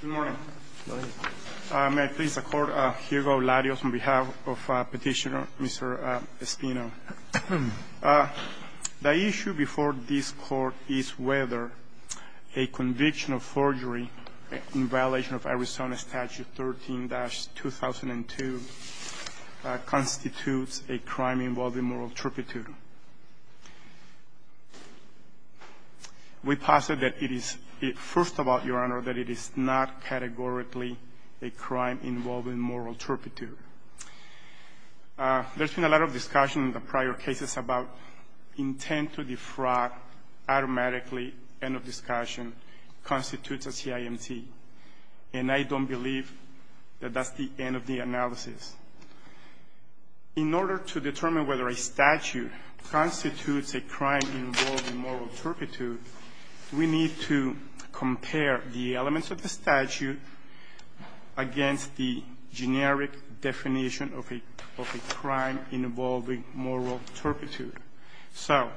Good morning. May I please support Hugo Larios on behalf of Petitioner Mr. Espino. The issue before this court is whether a conviction of forgery in violation of Arizona Statute 13-2002 constitutes a crime involving moral trepidation. We posit that it is, first of all, Your Honor, that it is not categorically a crime involving moral trepidation. There's been a lot of discussion in the prior cases about intent to defraud automatically, end of discussion, constitutes a CIMT, and I don't believe that that's the end of the analysis. In order to determine whether a statute constitutes a crime involving moral trepidation, we need to compare the elements of the statute against the generic definition of a crime involving moral trepidation. So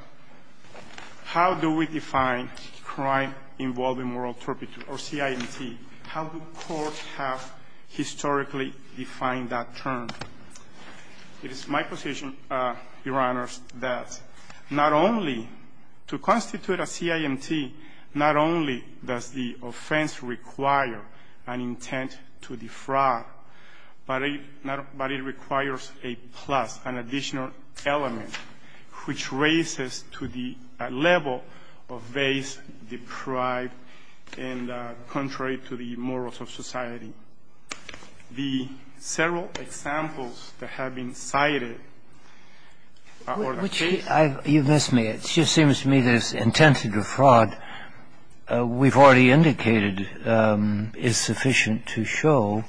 how do we define crime involving moral trepidation or CIMT? How do courts have historically defined that term? It is my position, Your Honor, that not only to constitute a CIMT, not only does the offense require an intent to defraud, but it requires a plus, an additional element, which raises to the level of base, deprived, and contrary to the morals of society. The several examples that have been cited are the case of the CIMT. You've missed me. It just seems to me that it's intent to defraud, we've already indicated, is sufficient to show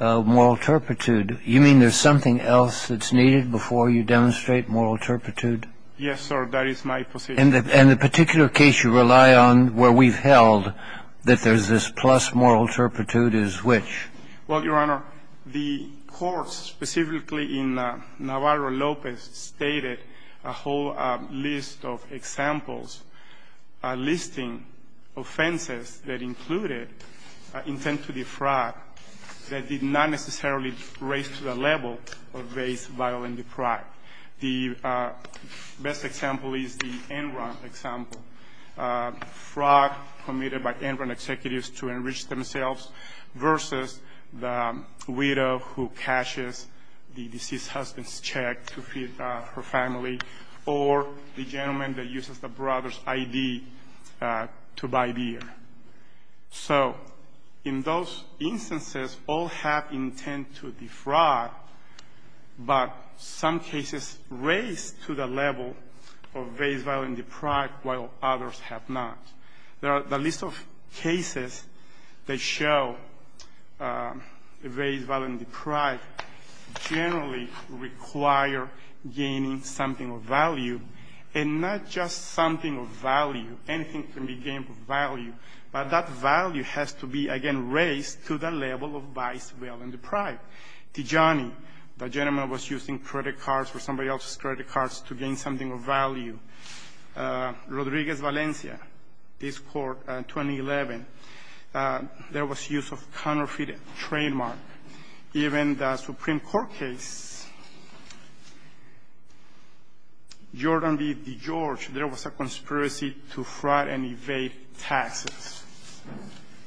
moral trepidation. You mean there's something else that's needed before you demonstrate moral trepidation? Yes, sir. That is my position. And the particular case you rely on where we've held that there's this plus moral trepidation is which? Well, Your Honor, the courts specifically in Navarro-Lopez stated a whole list of examples listing offenses that included intent to defraud that did not necessarily raise to the level of base, vile, and deprived. The best example is the Enron example, fraud committed by Enron executives to enrich themselves versus the widow who cashes the deceased husband's check to feed her family or the gentleman that uses the brother's ID to buy beer. So in those instances, all have intent to defraud, but some cases raise to the level of base, vile, and deprived, while others have not. There are a list of cases that show the base, vile, and deprived generally require gaining something of value, and not just something of value. Anything can be gained of value. But that value has to be, again, raised to the level of base, vile, and deprived. Tijani, the gentleman was using credit cards or somebody else's credit cards to gain something of value. Rodriguez-Valencia, this Court in 2011, there was use of counterfeit trademark. Even the Supreme Court case, Jordan v. DeGeorge, there was a conspiracy to fraud and evade taxes.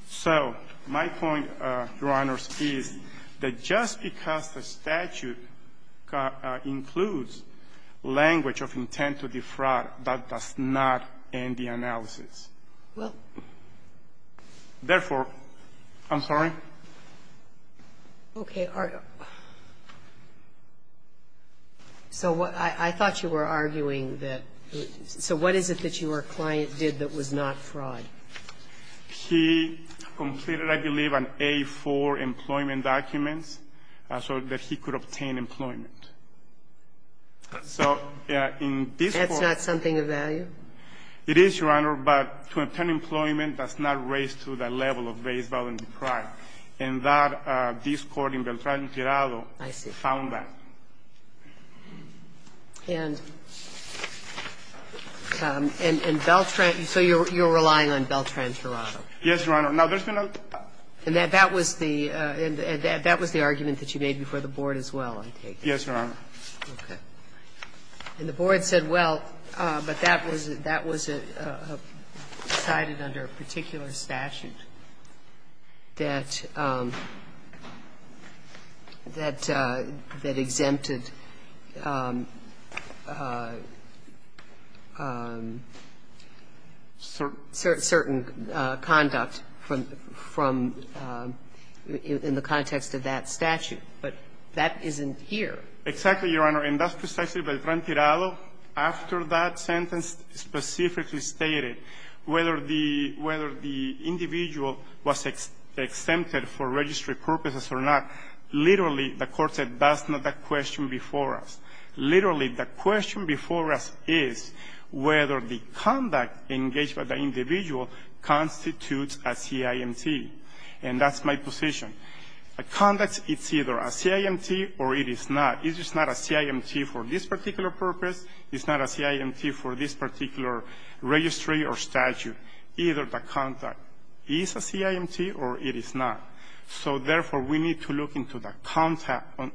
So my point, Your Honors, is that just because the statute includes language of intent to defraud, that does not end the analysis. Therefore, I'm sorry? Okay. So I thought you were arguing that so what is it that your client did that was not fraud? He completed, I believe, an A-4 employment documents so that he could obtain employment. So in this Court That's not something of value? It is, Your Honor, but to obtain employment does not raise to the level of base, vile, and deprived. And that, this Court in Beltran-Girado found that. I see. And in Beltran, so you're relying on Beltran-Girado? Yes, Your Honor. Now, there's been a And that was the argument that you made before the Board as well, I take it? Yes, Your Honor. Okay. And the Board said, well, but that was cited under a particular statute that exempted certain conduct from the context of that statute. But that isn't here. Exactly, Your Honor. And that's precisely Beltran-Girado, after that sentence, specifically stated whether the individual was exempted for registry purposes or not. Literally, the Court said that's not the question before us. Literally, the question before us is whether the conduct engaged by the individual constitutes a CIMT. And that's my position. A conduct, it's either a CIMT or a non-CIMT. It's either a CIMT or it is not. It is not a CIMT for this particular purpose. It's not a CIMT for this particular registry or statute. Either the conduct is a CIMT or it is not. So, therefore, we need to look into the conduct of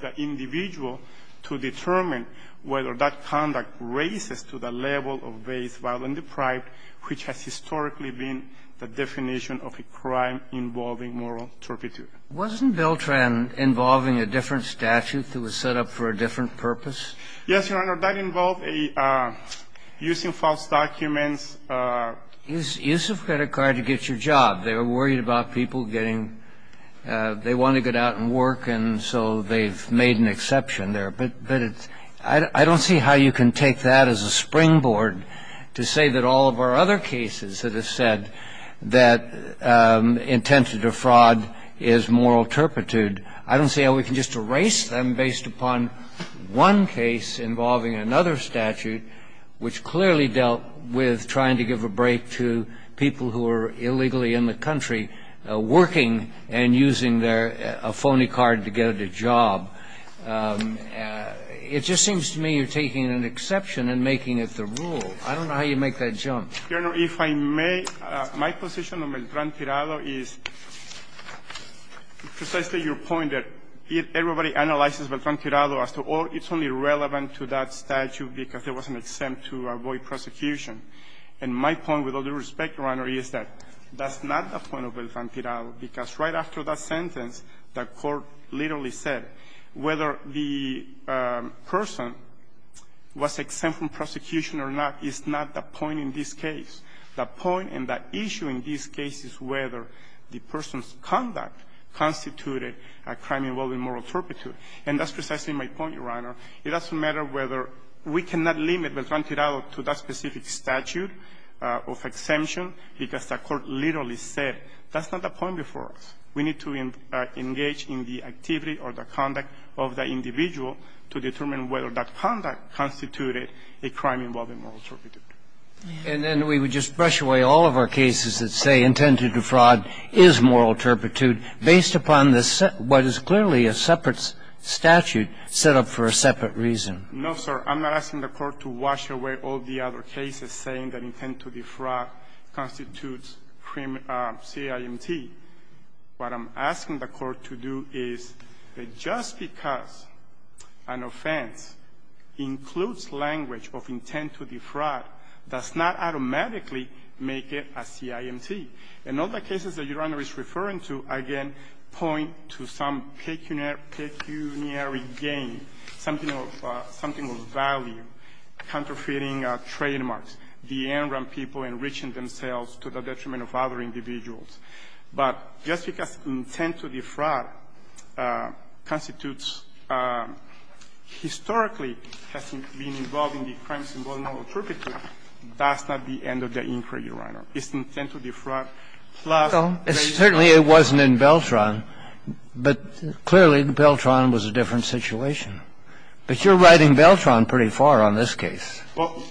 the individual to determine whether that conduct raises to the level of vain, violent, and deprived, which has historically been the definition of a crime involving moral turpitude. Wasn't Beltran involving a different statute that was set up for a different purpose? Yes, Your Honor. That involved a using false documents. Use of credit card to get your job. They were worried about people getting they want to get out and work, and so they've made an exception there. But it's – I don't see how you can take that as a springboard to say that all of our other cases that have said that intent to defraud is moral turpitude. I don't see how we can just erase them based upon one case involving another statute, which clearly dealt with trying to give a break to people who are illegally in the country working and using their – a phony card to get a job. It just seems to me you're taking an exception and making it the rule. I don't know how you make that jump. Your Honor, if I may, my position on Beltran-Tirado is precisely your point that everybody analyzes Beltran-Tirado as to, oh, it's only relevant to that statute because there was an exempt to avoid prosecution. And my point, with all due respect, Your Honor, is that that's not the point of Beltran-Tirado, because right after that sentence, the Court literally said whether the person was exempt from prosecution or not is not the point in this case. The point and the issue in this case is whether the person's conduct constituted a crime involving moral turpitude. And that's precisely my point, Your Honor. It doesn't matter whether – we cannot limit Beltran-Tirado to that specific statute of exemption because the Court literally said that's not the point before us. We need to engage in the activity or the conduct of the individual to determine whether that conduct constituted a crime involving moral turpitude. And then we would just brush away all of our cases that say intended to defraud is moral turpitude based upon the – what is clearly a separate statute set up for a separate reason. No, sir. I'm not asking the Court to wash away all the other cases saying that intent to defraud constitutes CIMT. What I'm asking the Court to do is that just because an offense includes language of intent to defraud does not automatically make it a CIMT. And all the cases that Your Honor is referring to, again, point to some pecuniary gain, something of value, counterfeiting trademarks, the in-ground people enriching themselves to the detriment of other individuals. But just because intent to defraud constitutes – historically has been involved in the crimes involving moral turpitude, that's not the end of the inquiry, Your Honor. It's intent to defraud plus raising the charge. Certainly it wasn't in Beltran, but clearly, Beltran was a different situation. But you're riding Beltran pretty far on this case. Well,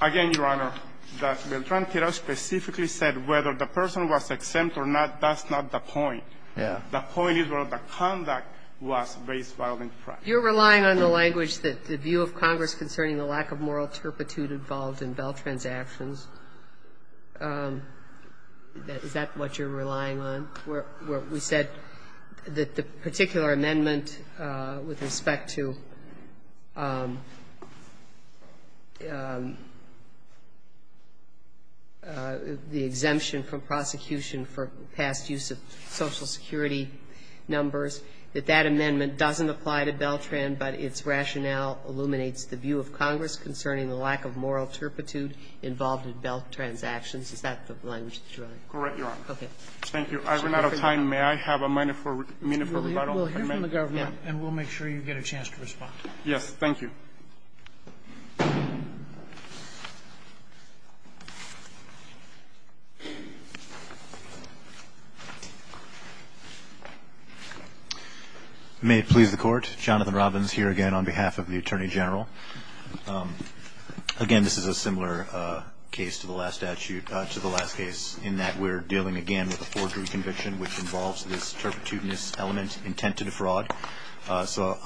again, Your Honor, Beltran specifically said whether the person was exempt or not, that's not the point. The point is where the conduct was based while in practice. You're relying on the language that the view of Congress concerning the lack of moral turpitude involved in Beltran's actions. Is that what you're relying on? We said that the particular amendment with respect to the exemption from prosecution for past use of Social Security numbers, that that amendment doesn't apply to Beltran, but its rationale illuminates the view of Congress concerning the lack of moral turpitude involved in Beltran's actions. So you're relying on Beltran's actions? Is that the language you're relying on? Correct, Your Honor. Okay. Thank you. I've run out of time. May I have a minute for rebuttal? We'll hear from the government and we'll make sure you get a chance to respond. Yes. Thank you. May it please the Court. Jonathan Robbins here again on behalf of the Attorney General. Again, this is a similar case to the last statute, to the last case, in that we're dealing again with a forgery conviction which involves this turpitudinous element, intent to defraud. So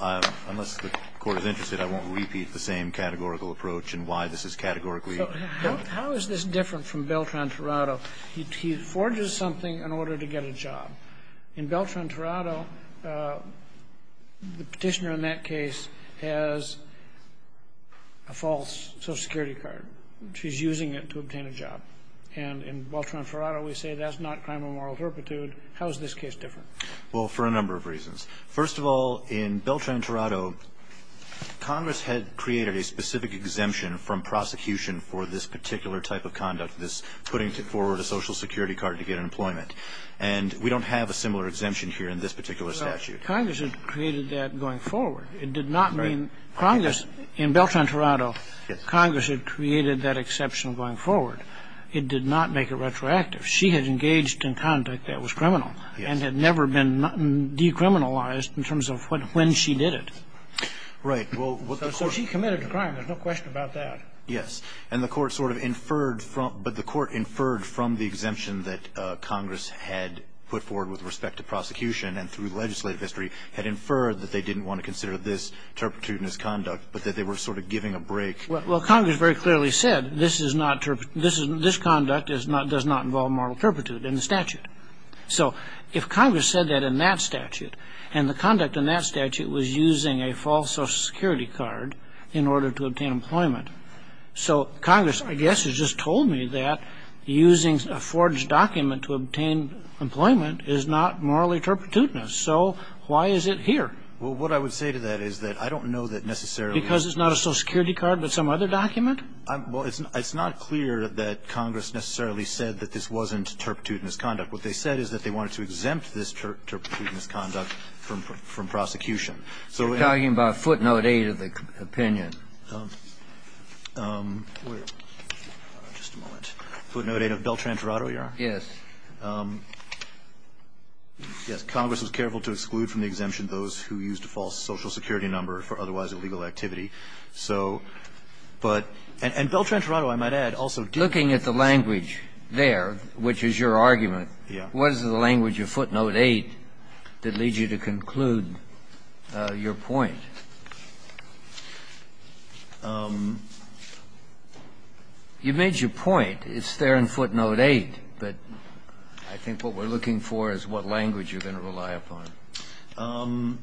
unless the Court is interested, I won't repeat the same categorical approach and why this is categorically different. How is this different from Beltran-Torado? He forges something in order to get a job. In Beltran-Torado, the petitioner in that case has a false Social Security card. She's using it to obtain a job. And in Beltran-Torado, we say that's not crime of moral turpitude. How is this case different? Well, for a number of reasons. First of all, in Beltran-Torado, Congress had created a specific exemption from prosecution for this particular type of conduct, this putting forward a Social Security card to get employment. And we don't have a similar exemption here in this particular statute. Congress had created that going forward. It did not mean – Congress, in Beltran-Torado, Congress had created that exception going forward. It did not make it retroactive. She had engaged in conduct that was criminal and had never been decriminalized in terms of when she did it. Right. Well, what the Court – So she committed a crime. There's no question about that. Yes. And the Court sort of inferred from – but the Court inferred from the exemption that Congress had put forward with respect to prosecution and through legislative history had inferred that they didn't want to consider this turpitude in this conduct, but that they were sort of giving a break. Well, Congress very clearly said this is not – this conduct does not involve moral turpitude in the statute. So if Congress said that in that statute, and the conduct in that statute was using a false Social Security card in order to obtain employment, so Congress, I guess, has just told me that using a forged document to obtain employment is not morally turpitudinous. So why is it here? Well, what I would say to that is that I don't know that necessarily Because it's not a Social Security card but some other document? Well, it's not clear that Congress necessarily said that this wasn't turpitudinous conduct. What they said is that they wanted to exempt this turpitudinous conduct from prosecution. So we're talking about footnote 8 of the opinion. Just a moment. Footnote 8 of Beltran-Torado, Your Honor? Yes. Yes. Congress was careful to exclude from the exemption those who used a false Social Security number for otherwise illegal activity. So – but – and Beltran-Torado, I might add, also did not say that this was a turpitudinous conduct. Looking at the language there, which is your argument, what is the language of footnote 8 that leads you to conclude your point? You made your point. It's there in footnote 8. But I think what we're looking for is what language you're going to rely upon.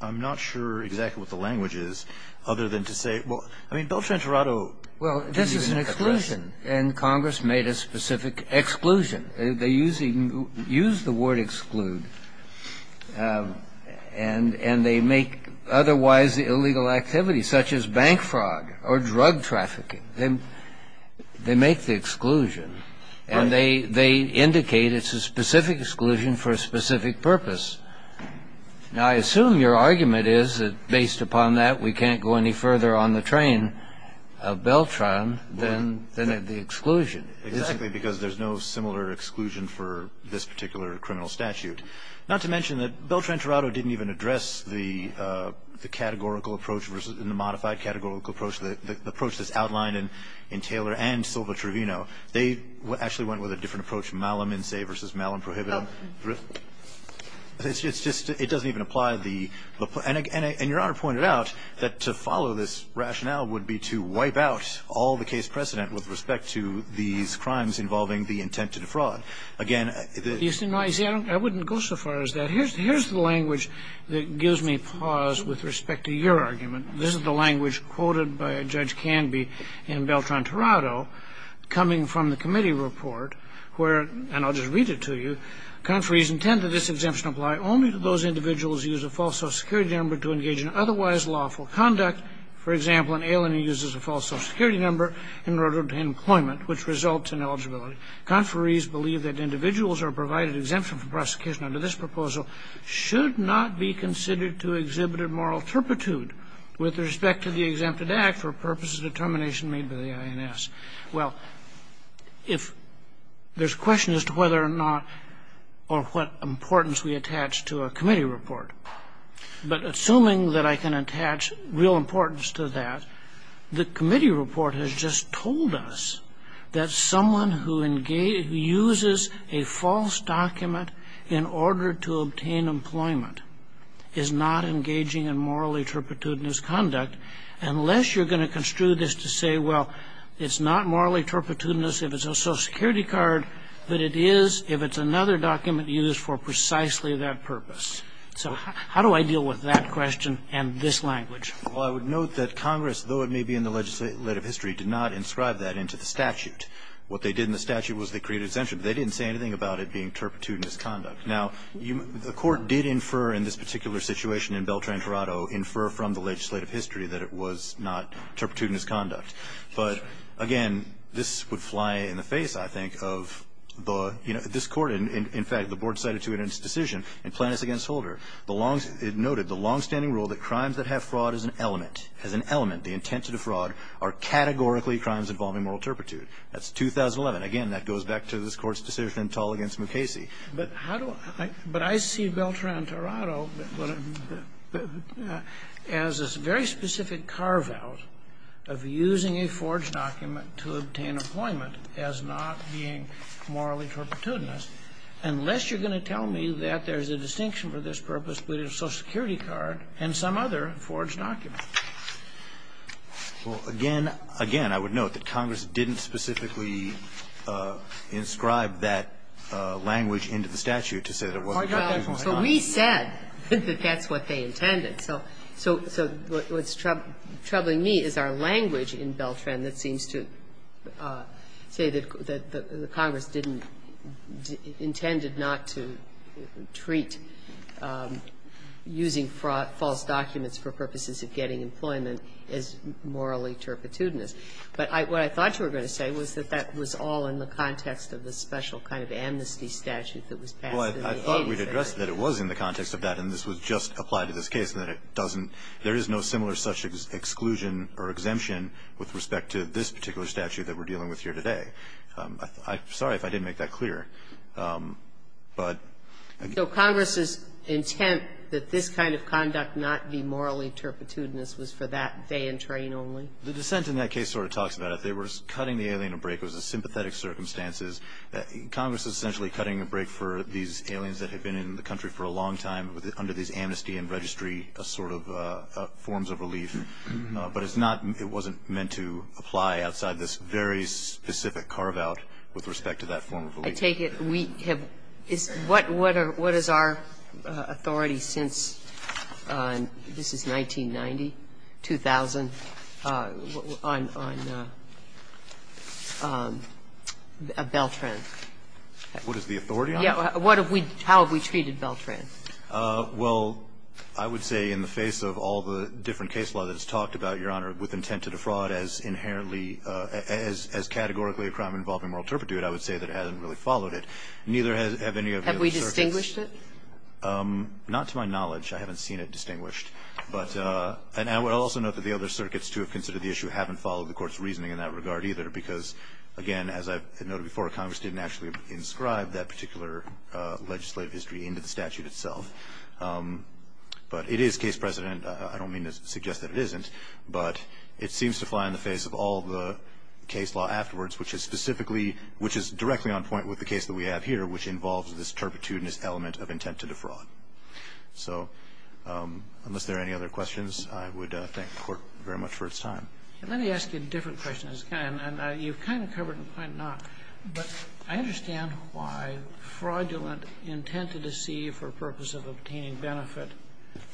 I'm not sure exactly what the language is, other than to say – well, I mean, Beltran-Torado LCD, Grant. Is that an exclusion? The action is a prelude. Well, this is an exclusion. And Congress made a specific exclusion. They use the word exclude, and they make otherwise illegal activity, such as bank fraud or drug trafficking. They – they make the exclusion. And they – they indicate it's a specific exclusion for a specific purpose. Now, I assume your argument is that based upon that, we can't go any further on the train of Beltran than – than at the exclusion. Exactly, because there's no similar exclusion for this particular criminal statute. Not to mention that Beltran-Torado didn't even address the – the categorical approach versus – the modified categorical approach, the – the approach that's outlined in Taylor and Silva-Trevino. They actually went with a different approach, Malum in se versus Malum prohibitum. It's just – it doesn't even apply the – and your Honor pointed out that to follow this rationale would be to wipe out all the case precedent with respect to these crimes involving the intent to defraud. Again, the – You see, I wouldn't go so far as that. Here's the language that gives me pause with respect to your argument. This is the language quoted by Judge Canby in Beltran-Torado coming from the committee report where – and I'll just read it to you. Conferees intend that this exemption apply only to those individuals who use a false social security number to engage in otherwise lawful conduct. For example, an alien uses a false social security number in order to obtain employment, which results in eligibility. Conferees believe that individuals who are provided exemption from prosecution under this proposal should not be considered to exhibit a moral turpitude with respect to the exempted act for purposes of determination made by the INS. Well, if – there's questions as to whether or not – or what importance we attach to a committee report. But assuming that I can attach real importance to that, the committee report has just told us that someone who engages – who uses a false document in order to obtain exemption, unless you're going to construe this to say, well, it's not morally turpitudinous if it's a social security card, but it is if it's another document used for precisely that purpose. So how do I deal with that question and this language? Well, I would note that Congress, though it may be in the legislative history, did not inscribe that into the statute. What they did in the statute was they created exemption, but they didn't say anything about it being turpitudinous conduct. Now, the Court did infer in this particular situation in Beltran-Torado, infer from the legislative history that it was not turpitudinous conduct. But, again, this would fly in the face, I think, of the – you know, this Court – in fact, the Board cited to it in its decision in Plaintiffs v. Holder, the long – it noted the longstanding rule that crimes that have fraud as an element, as an element, the intent to defraud, are categorically crimes involving moral turpitude. That's 2011. Again, that goes back to this Court's decision in Tull v. Mukasey. But how do I – but I see Beltran-Torado as a very specific carve-out of using a forged document to obtain employment as not being morally turpitudinous, unless you're going to tell me that there's a distinction for this purpose related to a Social Security card and some other forged document. Well, again, again, I would note that Congress didn't specifically inscribe that language into the statute to say that it wasn't turpitudinous conduct. So we said that that's what they intended. So what's troubling me is our language in Beltran that seems to say that the Congress didn't – intended not to treat using false documents for purposes of getting employment as morally turpitudinous. But what I thought you were going to say was that that was all in the context of the special kind of amnesty statute that was passed in the 80s. Well, I thought we'd addressed that it was in the context of that, and this was just applied to this case, and that it doesn't – there is no similar such exclusion or exemption with respect to this particular statute that we're dealing with here today. I'm sorry if I didn't make that clear. But – So Congress's intent that this kind of conduct not be morally turpitudinous was for that day and train only? The dissent in that case sort of talks about it. They were cutting the alien a break. It was a sympathetic circumstances. Congress is essentially cutting a break for these aliens that have been in the country for a long time under these amnesty and registry sort of forms of relief. But it's not – it wasn't meant to apply outside this very specific carve-out with respect to that form of relief. I take it we have – what is our authority since – this is 1990, 2000. What is our authority on Beltran? What is the authority on him? Yes. What have we – how have we treated Beltran? Well, I would say in the face of all the different case law that's talked about, Your Honor, with intent to defraud as inherently – as categorically a crime involving moral turpitude, I would say that it hasn't really followed it. Neither have any of the other circuits. Have we distinguished it? Not to my knowledge. I haven't seen it distinguished. But – and I would also note that the other circuits, too, have considered the issue, haven't followed the Court's reasoning in that regard, either, because, again, as I've noted before, Congress didn't actually inscribe that particular legislative history into the statute itself. But it is case precedent. I don't mean to suggest that it isn't. But it seems to fly in the face of all the case law afterwards, which is specifically – which is directly on point with the case that we have here, which involves this turpitudinous element of intent to defraud. So unless there are any other questions, I would thank the Court very much for its time. Let me ask you a different question. And you've kind of covered it in point, and I'm not. But I understand why fraudulent intent to deceive for purpose of obtaining benefit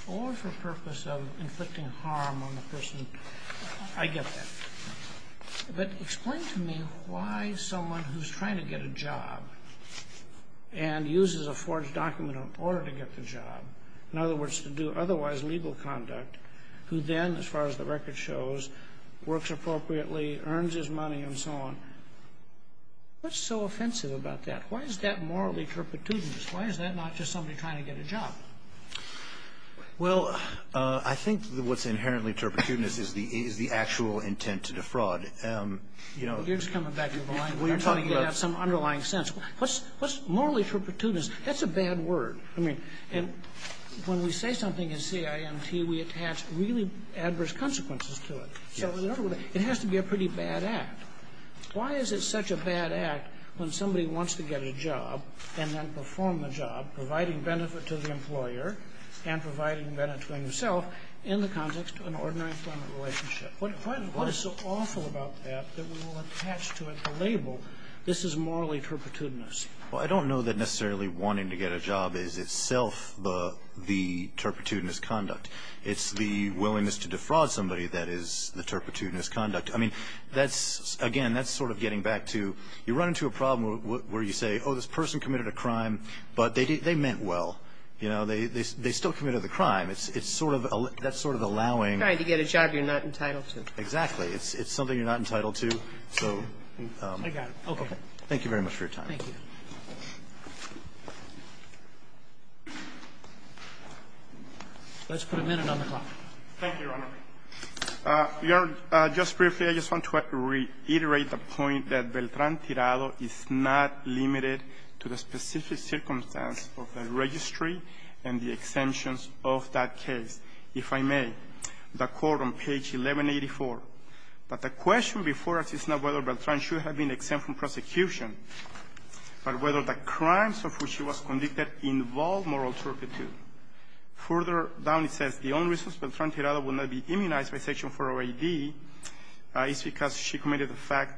or for purpose of inflicting harm on the person – I get that. But explain to me why someone who's trying to get a job and uses a forged document in order to get the job, in other words, to do otherwise legal conduct, who then, as far as the record shows, works appropriately, earns his money, and so on, what's so offensive about that? Why is that morally turpitudinous? Why is that not just somebody trying to get a job? Well, I think what's inherently turpitudinous is the actual intent to defraud. You know – You're just coming back to the language. I'm trying to get at some underlying sense. What's morally turpitudinous? That's a bad word. I mean, when we say something is CIMT, we attach really adverse consequences to it. So in other words, it has to be a pretty bad act. Why is it such a bad act when somebody wants to get a job and then perform the job, providing benefit to the employer and providing benefit to himself in the context of an ordinary employment relationship? What is so awful about that that we will attach to it the label, this is morally turpitudinous? Well, I don't know that necessarily wanting to get a job is itself the turpitudinous conduct. It's the willingness to defraud somebody that is the turpitudinous conduct. I mean, that's – again, that's sort of getting back to – you run into a problem where you say, oh, this person committed a crime, but they meant well. You know, they still committed the crime. It's sort of – that's sort of allowing – Trying to get a job you're not entitled to. Exactly. It's something you're not entitled to, so – I got it. Okay. Thank you very much for your time. Thank you. Let's put a minute on the clock. Thank you, Your Honor. Your Honor, just briefly, I just want to reiterate the point that Beltran-Tirado is not limited to the specific circumstance of the registry and the exemptions of that case, if I may. The court on page 1184. But the question before us is not whether Beltran should have been exempt from the case, but whether the crimes of which she was convicted involve moral turpitude. Further down, it says, the only reason Beltran-Tirado will not be immunized by Section 408D is because she committed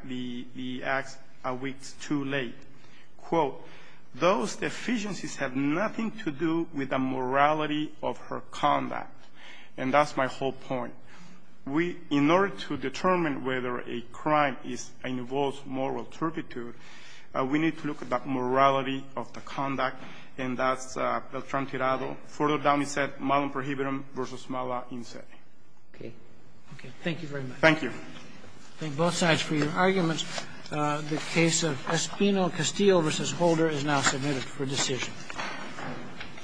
the act a week too late. Quote, those deficiencies have nothing to do with the morality of her conduct. And that's my whole point. We – in order to determine whether a crime is – involves moral turpitude, we need to look at that morality of the conduct, and that's Beltran-Tirado. Further down, it said, malum prohibitum versus mala in se. Okay. Okay. Thank you very much. Thank you. I thank both sides for your arguments. The case of Espino-Castillo v. Holder is now submitted for decision.